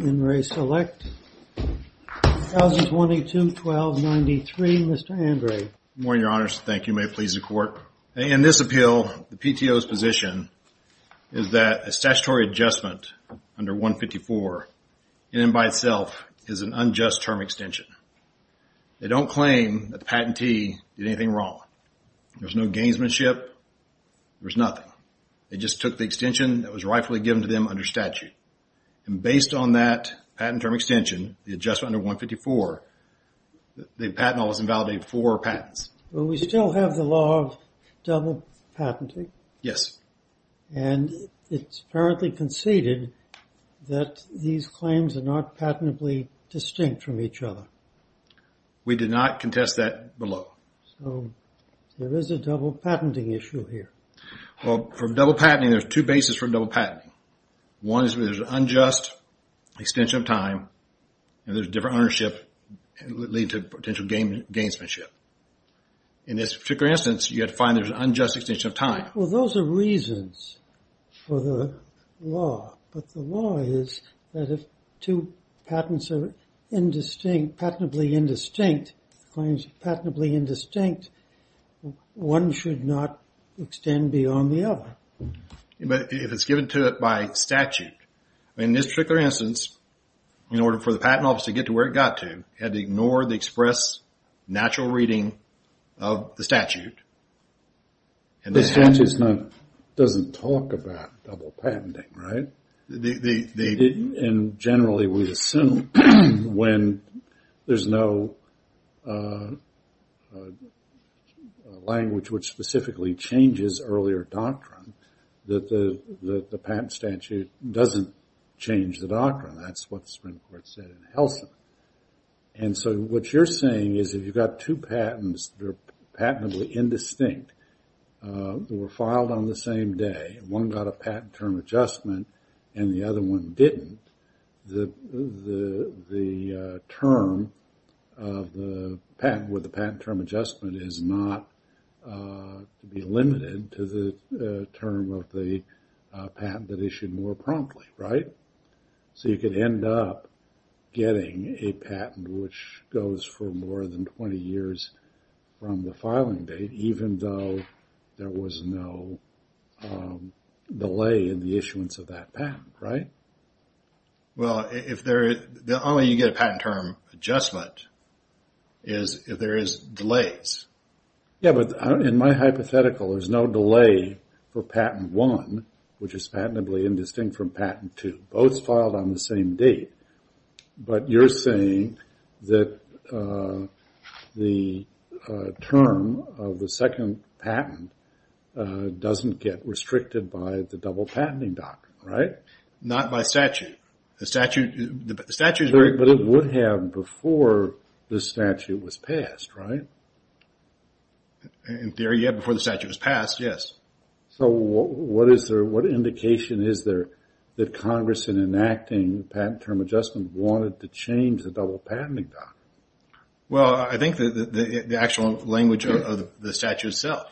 In Re Select, 1022-1293, Mr. Andre. Good morning, Your Honors. Thank you. May it please the Court. In this appeal, the PTO's position is that a statutory adjustment under 154 in and by itself is an unjust term extension. They don't claim that the patentee did anything wrong. There's no gainsmanship. There's nothing. They just took the extension that was rightfully given to them under statute. And based on that patent term extension, the adjustment under 154, the patent law was invalidated for patents. Well, we still have the law of double patenting. Yes. And it's apparently conceded that these claims are not patently distinct from each other. We did not contest that below. So, there is a double patenting issue here. Well, from double patenting, there's two bases from double patenting. One is there's an unjust extension of time. And there's different ownership leading to potential gainsmanship. In this particular instance, you had to find there's an unjust extension of time. Well, those are reasons for the law. But the law is that if two patents are indistinct, patently indistinct, claims patently indistinct, one should not extend beyond the other. But if it's given to it by statute, in this particular instance, in order for the patent office to get to where it got to, it had to ignore the express natural reading of the statute. The statute doesn't talk about double patenting, right? And generally, we assume when there's no language which specifically changes earlier doctrine, that the patent statute doesn't change the doctrine. That's what the Supreme Court said in Helsin. And so, what you're saying is if you've got two patents that are patently indistinct, that were filed on the same day, one got a patent term adjustment, and the other one didn't, the term of the patent with the patent term adjustment is not to be limited to the term of the patent that issued more promptly, right? So, you could end up getting a patent which goes for more than 20 years from the filing date, even though there was no delay in the issuance of that patent, right? Well, the only way you get a patent term adjustment is if there is delays. Yeah, but in my hypothetical, there's no delay for patent one, which is patently indistinct from patent two. Both filed on the same date, but you're saying that the term of the second patent doesn't get restricted by the double patenting doctrine, right? Not by statute. But it would have before the statute was passed, right? In theory, yeah, before the statute was passed, yes. So, what indication is there that Congress, in enacting patent term adjustment, wanted to change the double patenting doctrine? Well, I think the actual language of the statute itself.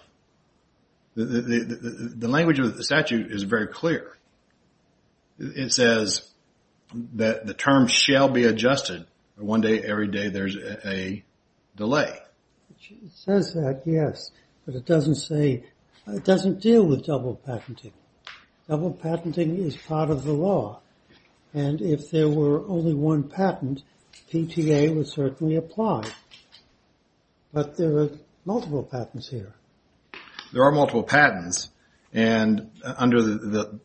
The language of the statute is very clear. It says that the term shall be adjusted one day every day there's a delay. It says that, yes, but it doesn't deal with double patenting. Double patenting is part of the law, and if there were only one patent, PTA would certainly apply. But there are multiple patents here. There are multiple patents, and under the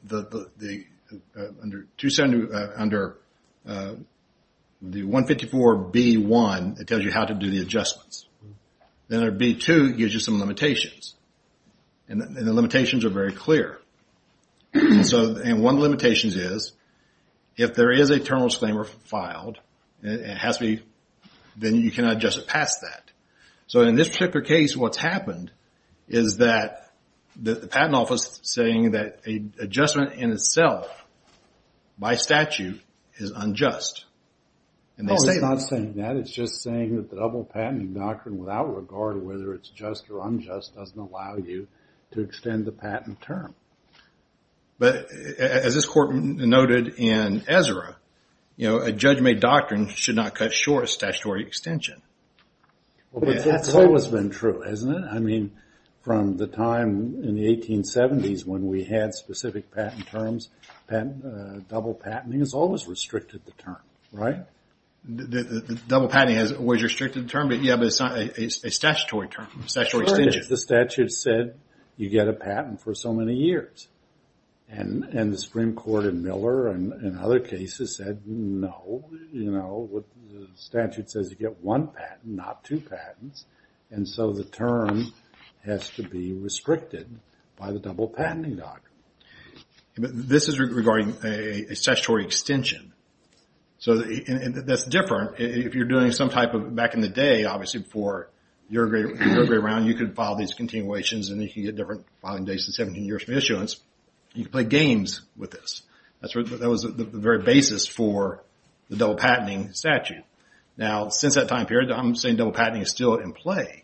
154B1, it tells you how to do the adjustments. Then under B2, it gives you some limitations. And the limitations are very clear. And one of the limitations is, if there is a terminal disclaimer filed, then you cannot adjust it past that. So, in this particular case, what's happened is that the patent office is saying that an adjustment in itself, by statute, is unjust. No, it's not saying that. It's just saying that the double patenting doctrine, without regard to whether it's just or unjust, doesn't allow you to extend the patent term. But, as this court noted in Ezra, a judge-made doctrine should not cut short a statutory extension. That's always been true, isn't it? I mean, from the time in the 1870s when we had specific patent terms, double patenting has always restricted the term, right? Double patenting has always restricted the term, but, yeah, but it's not a statutory term, a statutory extension. The statute said you get a patent for so many years. And the Supreme Court in Miller and other cases said, no. The statute says you get one patent, not two patents. And so the term has to be restricted by the double patenting doctrine. This is regarding a statutory extension. So that's different. If you're doing some type of, back in the day, obviously, for your grade round, you could file these continuations, and you could get different filing dates and 17 years for issuance. You could play games with this. That was the very basis for the double patenting statute. Now, since that time period, I'm saying double patenting is still in play.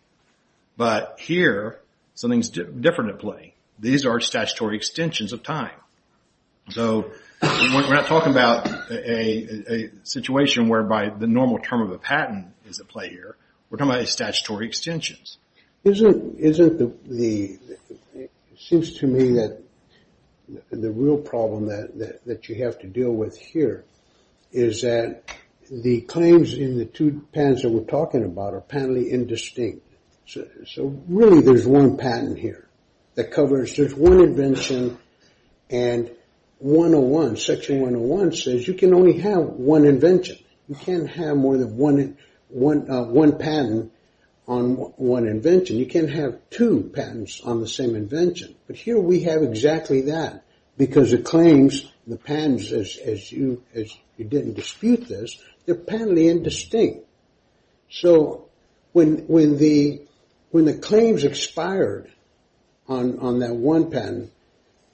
But here, something's different in play. These are statutory extensions of time. So we're not talking about a situation whereby the normal term of a patent is at play here. We're talking about statutory extensions. Isn't the – seems to me that the real problem that you have to deal with here is that the claims in the two patents that we're talking about are apparently indistinct. So really, there's one patent here that covers just one invention. And 101, Section 101 says you can only have one invention. You can't have more than one patent on one invention. You can't have two patents on the same invention. But here we have exactly that because the claims, the patents, as you didn't dispute this, they're apparently indistinct. So when the claims expired on that one patent,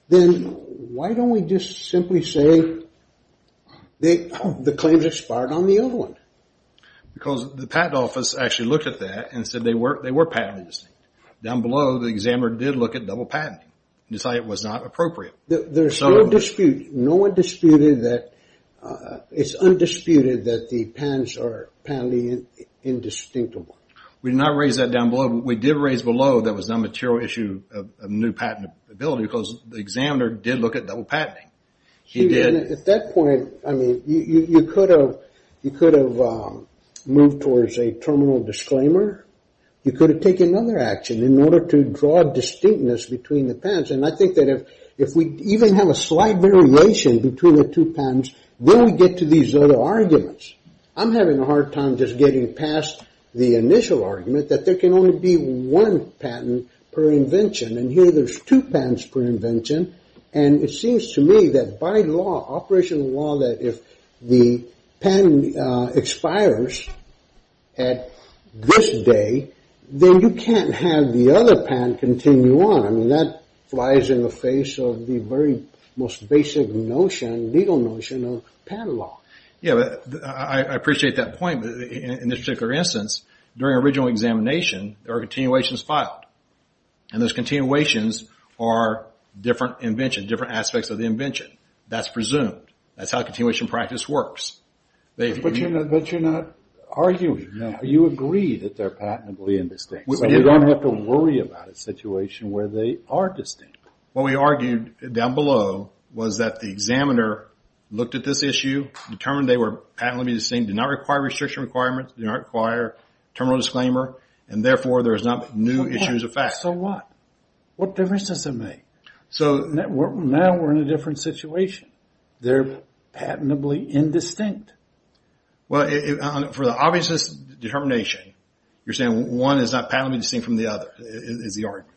then why don't we just simply say the claims expired on the other one? Because the patent office actually looked at that and said they were patented. Down below, the examiner did look at double patenting and decided it was not appropriate. There's no dispute. No one disputed that – it's undisputed that the patents are apparently indistinct. We did not raise that down below. We did raise below that was a material issue of new patentability because the examiner did look at double patenting. He did. At that point, I mean, you could have moved towards a terminal disclaimer. You could have taken another action in order to draw a distinctness between the patents. And I think that if we even have a slight variation between the two patents, then we get to these other arguments. I'm having a hard time just getting past the initial argument that there can only be one patent per invention. And here there's two patents per invention. And it seems to me that by law, operational law, that if the patent expires at this day, then you can't have the other patent continue on. I mean, that flies in the face of the very most basic legal notion of patent law. Yeah, I appreciate that point. In this particular instance, during original examination, there are continuations filed. And those continuations are different inventions, different aspects of the invention. That's presumed. That's how continuation practice works. But you're not arguing. You agree that they're patentably indistinct. So we don't have to worry about a situation where they are distinct. What we argued down below was that the examiner looked at this issue, determined they were patently distinct, did not require restriction requirements, did not require terminal disclaimer, and therefore there's not new issues of fact. So what? What difference does it make? Now we're in a different situation. They're patentably indistinct. Well, for the obvious determination, you're saying one is not patently distinct from the other is the argument.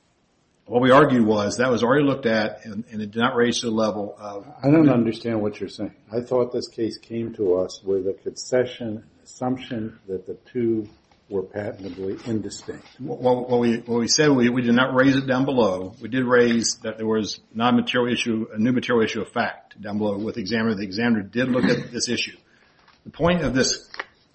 What we argued was that was already looked at and it did not raise to the level of the other. I don't understand what you're saying. I thought this case came to us with a concession assumption that the two were patentably indistinct. Well, we said we did not raise it down below. We did raise that there was a new material issue of fact down below with the examiner. The examiner did look at this issue. The point of this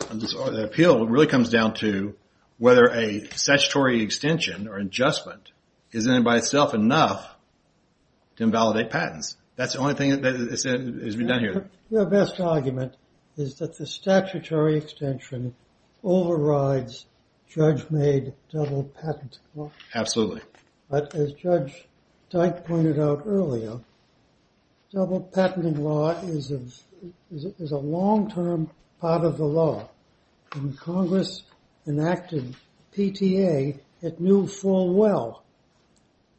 appeal really comes down to whether a statutory extension or adjustment is in and by itself enough to invalidate patents. That's the only thing that has been done here. Your best argument is that the statutory extension overrides judge-made double patent law. Absolutely. But as Judge Dyke pointed out earlier, double patenting law is a long-term part of the law. When Congress enacted PTA, it knew full well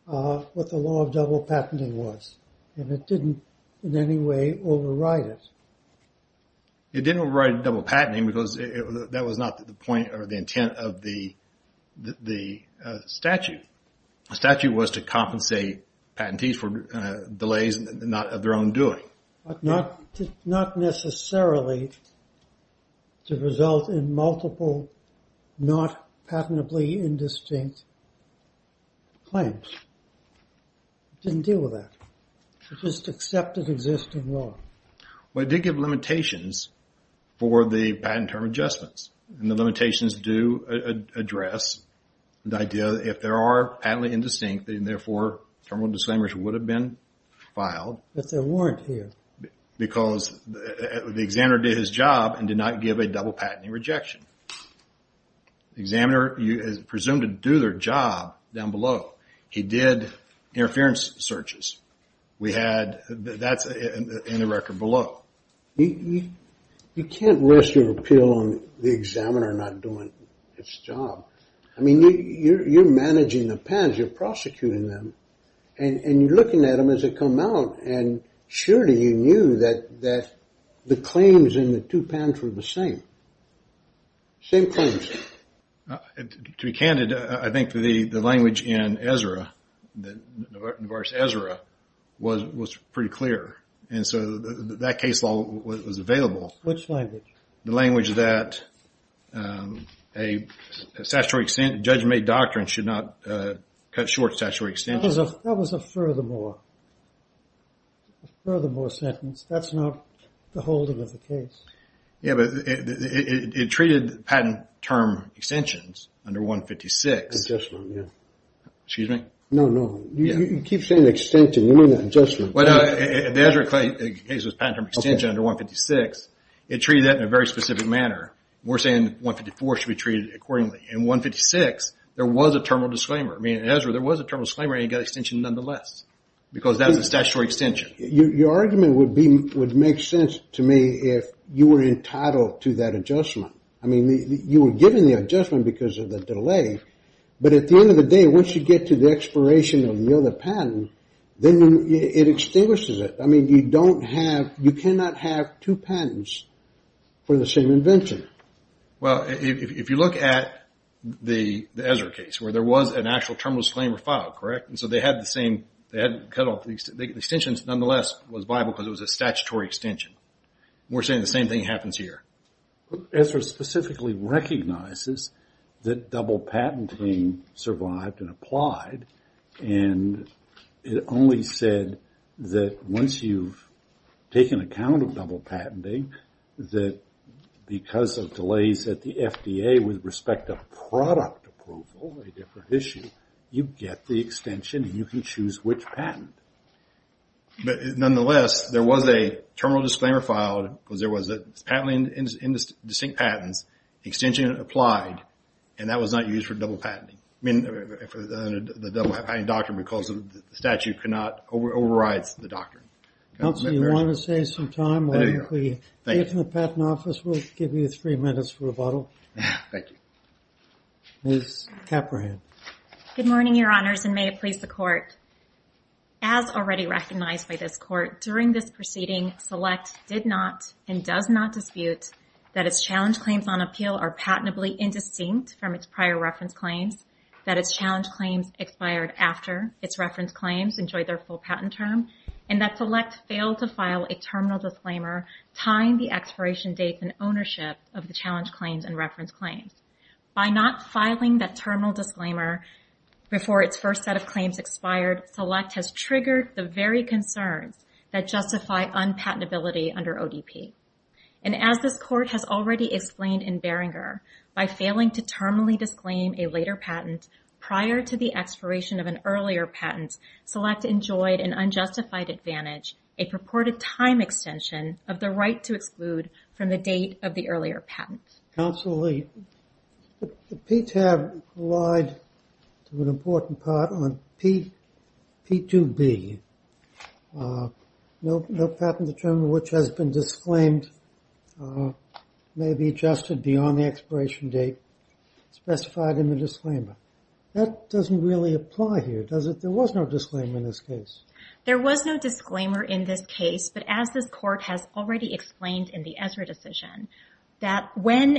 what the law of double patenting was. And it didn't in any way override it. It didn't override double patenting because that was not the point or the intent of the statute. The statute was to compensate patentees for delays not of their own doing. Not necessarily to result in multiple not patentably indistinct claims. It didn't deal with that. It just accepted existing law. Well, it did give limitations for the patent term adjustments. And the limitations do address the idea that if there are patently indistinct and therefore terminal disclaimers would have been filed. But there weren't here. Because the examiner did his job and did not give a double patenting rejection. The examiner is presumed to do their job down below. He did interference searches. That's in the record below. You can't rest your appeal on the examiner not doing its job. I mean, you're managing the patents. You're prosecuting them. And you're looking at them as they come out. And surely you knew that the claims in the two patents were the same. Same claims. To be candid, I think the language in Ezra, the verse Ezra, was pretty clear. And so that case law was available. Which language? The language that a statutory extension, judge-made doctrine should not cut short statutory extension. That was a furthermore. A furthermore sentence. That's not the holding of the case. Yeah, but it treated patent term extensions under 156. Adjustment, yeah. Excuse me? No, no. You keep saying extension. You mean adjustment. The Ezra case was patent term extension under 156. It treated that in a very specific manner. We're saying 154 should be treated accordingly. In 156, there was a terminal disclaimer. I mean, in Ezra, there was a terminal disclaimer and you got extension nonetheless. Because that was a statutory extension. Your argument would make sense to me if you were entitled to that adjustment. I mean, you were given the adjustment because of the delay. But at the end of the day, once you get to the expiration of the other patent, then it extinguishes it. I mean, you cannot have two patents for the same invention. Well, if you look at the Ezra case, where there was an actual terminal disclaimer filed, correct? And so they had the same – the extensions nonetheless was viable because it was a statutory extension. We're saying the same thing happens here. Ezra specifically recognizes that double patenting survived and applied. And it only said that once you've taken account of double patenting, that because of delays at the FDA with respect to product approval, a different issue, you get the extension and you can choose which patent. But nonetheless, there was a terminal disclaimer filed, because there was a patent in distinct patents, extension applied, and that was not used for double patenting. I mean, for the double patenting doctrine because the statute cannot – overrides the doctrine. Council, you want to save some time? Why don't we get from the patent office? We'll give you three minutes for rebuttal. Thank you. Ms. Caprahead. Good morning, Your Honors, and may it please the Court. As already recognized by this Court, during this proceeding, Select did not and does not dispute that its challenge claims on appeal are patently indistinct from its prior reference claims, that its challenge claims expired after its reference claims enjoyed their full patent term, and that Select failed to file a terminal disclaimer tying the expiration date and ownership of the challenge claims and reference claims. By not filing that terminal disclaimer before its first set of claims expired, Select has triggered the very concerns that justify unpatentability under ODP. And as this Court has already explained in Beringer, by failing to terminally disclaim a later patent prior to the expiration of an earlier patent, Select enjoyed an unjustified advantage, a purported time extension of the right to exclude from the date of the earlier patent. Counsel Lee, the PTAB relied to an important part on P2B, no patent determined which has been disclaimed may be adjusted beyond the expiration date specified in the disclaimer. That doesn't really apply here, does it? There was no disclaimer in this case. There was no disclaimer in this case, but as this Court has already explained in the Ezra decision, that when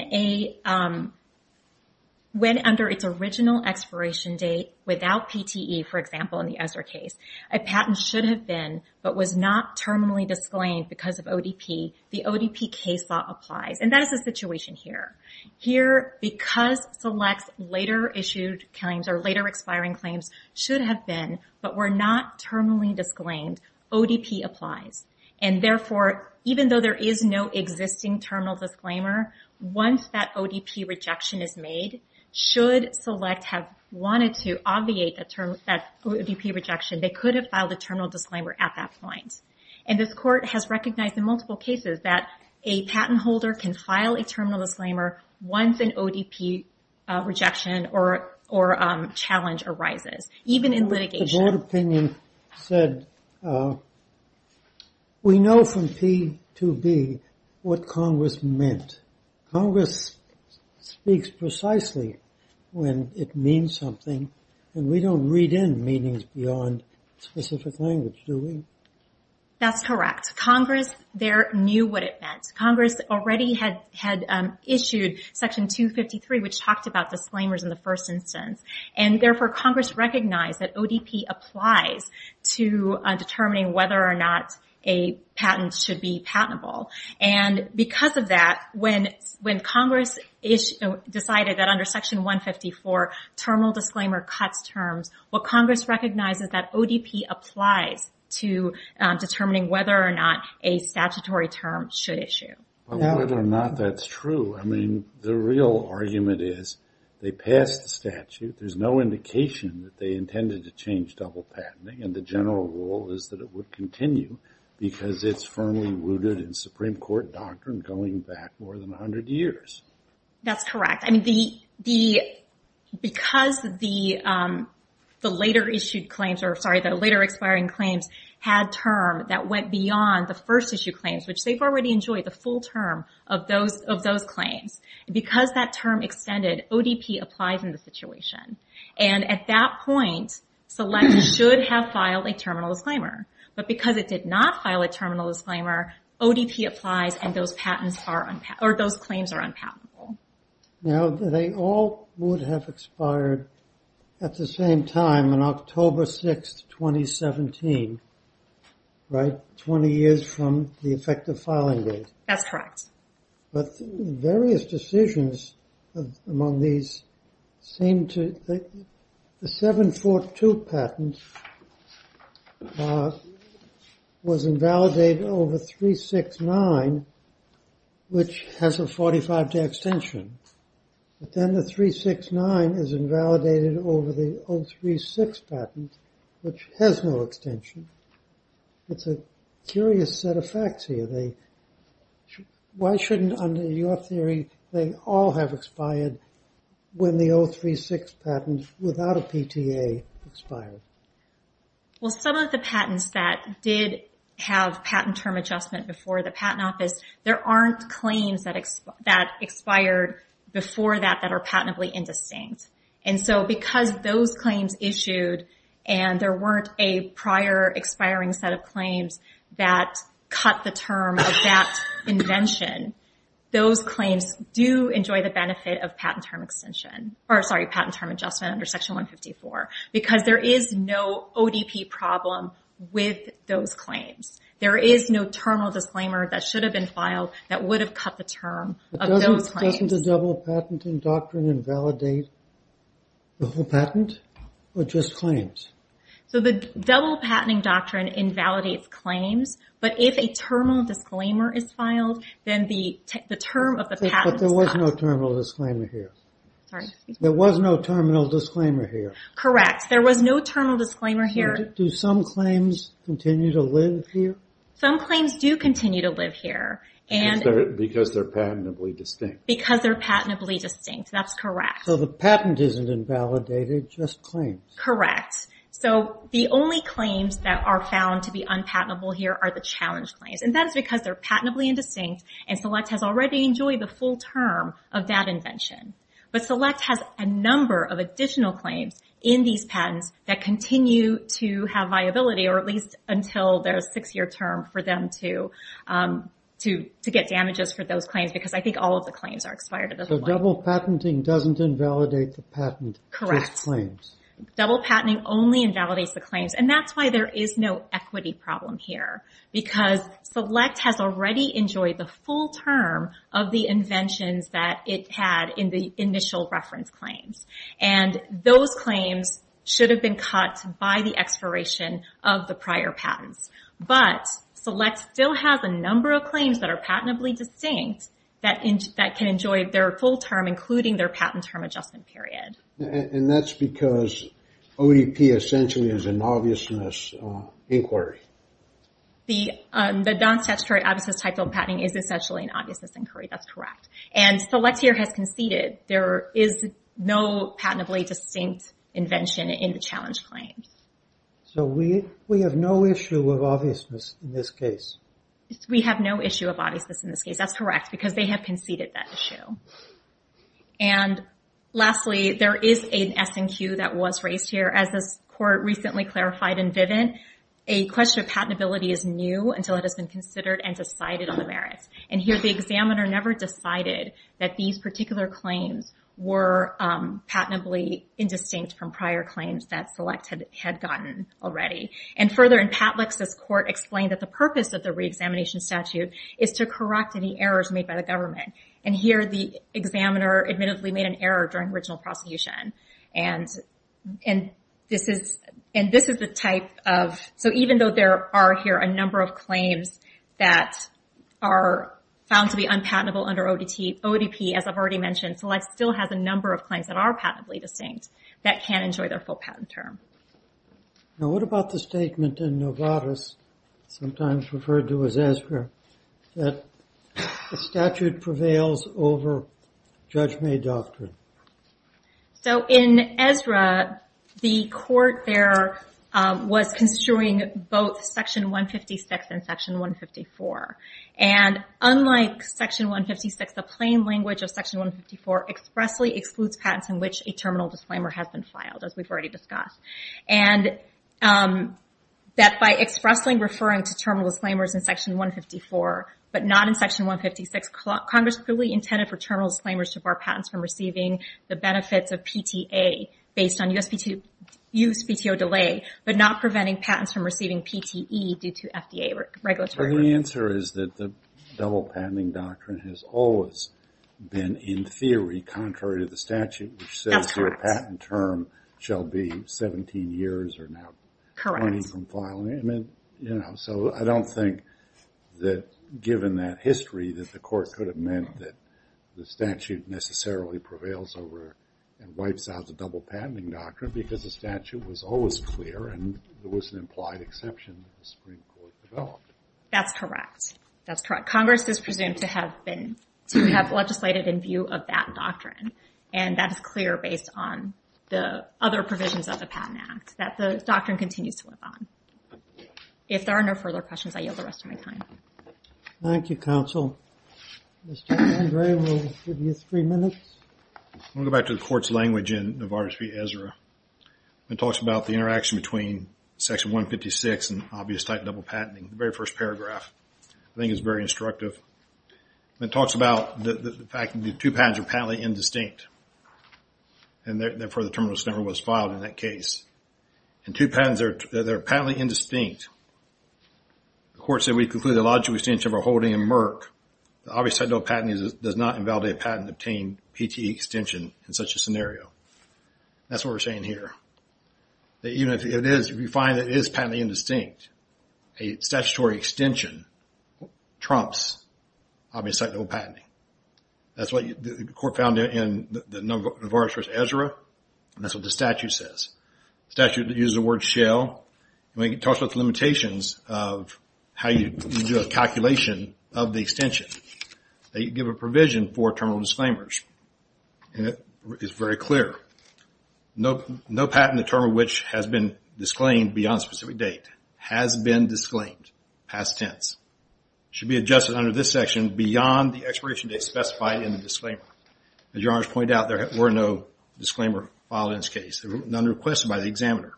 under its original expiration date without PTE, for example, in the Ezra case, a patent should have been but was not terminally disclaimed because of ODP, the ODP case law applies. And that is the situation here. Here, because Select's later-issued claims or later-expiring claims should have been but were not terminally disclaimed, ODP applies. And therefore, even though there is no existing terminal disclaimer, once that ODP rejection is made, should Select have wanted to obviate that ODP rejection, they could have filed a terminal disclaimer at that point. And this Court has recognized in multiple cases that a patent holder can file a terminal disclaimer once an ODP rejection or challenge arises, even in litigation. The Board opinion said, we know from P2B what Congress meant. Congress speaks precisely when it means something, and we don't read in meanings beyond specific language, do we? That's correct. Congress there knew what it meant. Congress already had issued Section 253, which talked about disclaimers in the first instance. And therefore, Congress recognized that ODP applies to determining whether or not a patent should be patentable. And because of that, when Congress decided that under Section 154, terminal disclaimer cuts terms, what Congress recognizes is that ODP applies to determining whether or not a statutory term should issue. But whether or not that's true, I mean, the real argument is, they passed the statute, there's no indication that they intended to change double patenting, and the general rule is that it would continue because it's firmly rooted in Supreme Court doctrine going back more than 100 years. That's correct. I mean, because the later-issued claims, or sorry, the later-expiring claims, had term that went beyond the first-issue claims, which they've already enjoyed the full term of those claims. Because that term extended, ODP applies in the situation. And at that point, Select should have filed a terminal disclaimer. But because it did not file a terminal disclaimer, ODP applies, and those claims are unpatentable. Now, they all would have expired at the same time, on October 6, 2017, right? 20 years from the effective filing date. That's correct. But various decisions among these seem to... The 742 patent was invalidated over 369, which has a 45-day extension. But then the 369 is invalidated over the 036 patent, which has no extension. It's a curious set of facts here. Why shouldn't, under your theory, they all have expired when the 036 patent, without a PTA, expired? Well, some of the patents that did have patent term adjustment before the Patent Office, there aren't claims that expired before that that are patently indistinct. And so because those claims issued, and there weren't a prior expiring set of claims that cut the term of that invention, those claims do enjoy the benefit of patent term extension. Or, sorry, patent term adjustment under Section 154. Because there is no ODP problem with those claims. There is no terminal disclaimer that should have been filed that would have cut the term of those claims. But doesn't the double-patenting doctrine invalidate the whole patent, or just claims? So the double-patenting doctrine invalidates claims, but if a terminal disclaimer is filed, then the term of the patent is cut. But there was no terminal disclaimer here. Sorry? There was no terminal disclaimer here. Correct. There was no terminal disclaimer here. Do some claims continue to live here? Some claims do continue to live here. Because they're patently distinct. Because they're patently distinct. That's correct. So the patent isn't invalidated, just claims. Correct. So the only claims that are found to be unpatentable here are the challenge claims. And that is because they're patently indistinct, and Select has already enjoyed the full term of that invention. But Select has a number of additional claims in these patents that continue to have viability, or at least until their six-year term, for them to get damages for those claims. Because I think all of the claims are expired at this point. So double-patenting doesn't invalidate the patent, just claims. Correct. Double-patenting only invalidates the claims. And that's why there is no equity problem here. Because Select has already enjoyed the full term of the inventions that it had in the initial reference claims. And those claims should have been cut by the expiration of the prior patents. But Select still has a number of claims that are patently distinct that can enjoy their full term, including their patent term adjustment period. And that's because OEP essentially is an obviousness inquiry. The non-statutory obviousness type of patenting is essentially an obviousness inquiry. That's correct. And Select here has conceded. There is no patently distinct invention in the challenge claims. So we have no issue of obviousness in this case. We have no issue of obviousness in this case. That's correct. Because they have conceded that issue. And lastly, there is an S&Q that was raised here. As this Court recently clarified in Vivint, a question of patentability is new until it has been considered and decided on the merits. And here the examiner never decided that these particular claims were patently indistinct from prior claims that Select had gotten already. And further, in Patlex, this Court explained that the purpose of the reexamination statute is to correct any errors made by the government. And here the examiner admittedly made an error during original prosecution. And this is the type of... So even though there are here a number of claims that are found to be unpatentable under ODP, as I've already mentioned, Select still has a number of claims that are patently distinct that can't enjoy their full patent term. Now, what about the statement in Novartis, sometimes referred to as Ezra, that the statute prevails over judge-made doctrine? So in Ezra, the Court there was construing both Section 156 and Section 154. And unlike Section 156, the plain language of Section 154 expressly excludes patents in which a terminal disclaimer has been filed, as we've already discussed. And that by expressly referring to terminal disclaimers in Section 154, but not in Section 156, Congress clearly intended for terminal disclaimers to bar patents from receiving the benefits of PTA based on USPTO delay, but not preventing patents from receiving PTE due to FDA regulatory... The answer is that the double-patenting doctrine has always been, in theory, contrary to the statute, which says your patent term shall be 17 years or now 20 from filing. So I don't think that, given that history, that the Court could have meant that the statute necessarily prevails over and wipes out the double-patenting doctrine because the statute was always clear and there was an implied exception that the Supreme Court developed. That's correct. That's correct. Congress is presumed to have been... to have legislated in view of that doctrine, and that is clear based on the other provisions of the Patent Act, that the doctrine continues to live on. If there are no further questions, I yield the rest of my time. Thank you, counsel. Mr. Andre, we'll give you three minutes. I'm going to go back to the Court's language in Novartis v. Ezra. It talks about the interaction between Section 156 and obvious type double-patenting, the very first paragraph. I think it's very instructive. It talks about the fact that the two patents are patently indistinct, and therefore the terminalist number was filed in that case. And two patents, they're patently indistinct. The Court said, even though we conclude the logical extension of a holding in Merck, the obvious type double-patenting does not invalidate a patent-obtained PTE extension in such a scenario. That's what we're saying here. That even if it is, if we find that it is patently indistinct, a statutory extension trumps obvious type double-patenting. That's what the Court found in the Novartis v. Ezra, and that's what the statute says. The statute uses the word shell, and it talks about the limitations of how you do a calculation of the extension. They give a provision for terminal disclaimers, and it is very clear. No patent, the term of which has been disclaimed beyond a specific date, has been disclaimed past tense. It should be adjusted under this section beyond the expiration date specified in the disclaimer. As your Honor has pointed out, there were no disclaimer filed in this case. None requested by the examiner.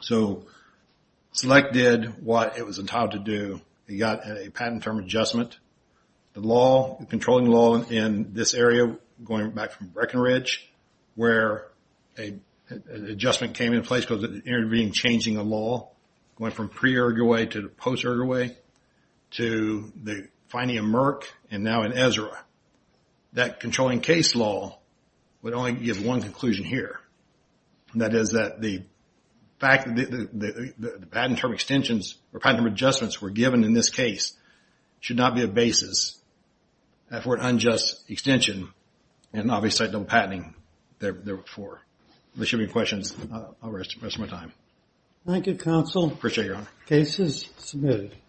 Select did what it was entitled to do. They got a patent term adjustment. The controlling law in this area, going back from Breckenridge, where an adjustment came into place because it intervened in changing the law. It went from pre-Uruguay to post-Uruguay to the finding of Merck, and now in Ezra. That controlling case law would only give one conclusion here. That is that the fact that the patent term extensions or patent term adjustments were given in this case should not be a basis for an unjust extension and obviously no patenting therefore. If there should be any questions, I'll arrest you for the rest of my time. Thank you, Counsel. Appreciate it, Your Honor. Case is submitted.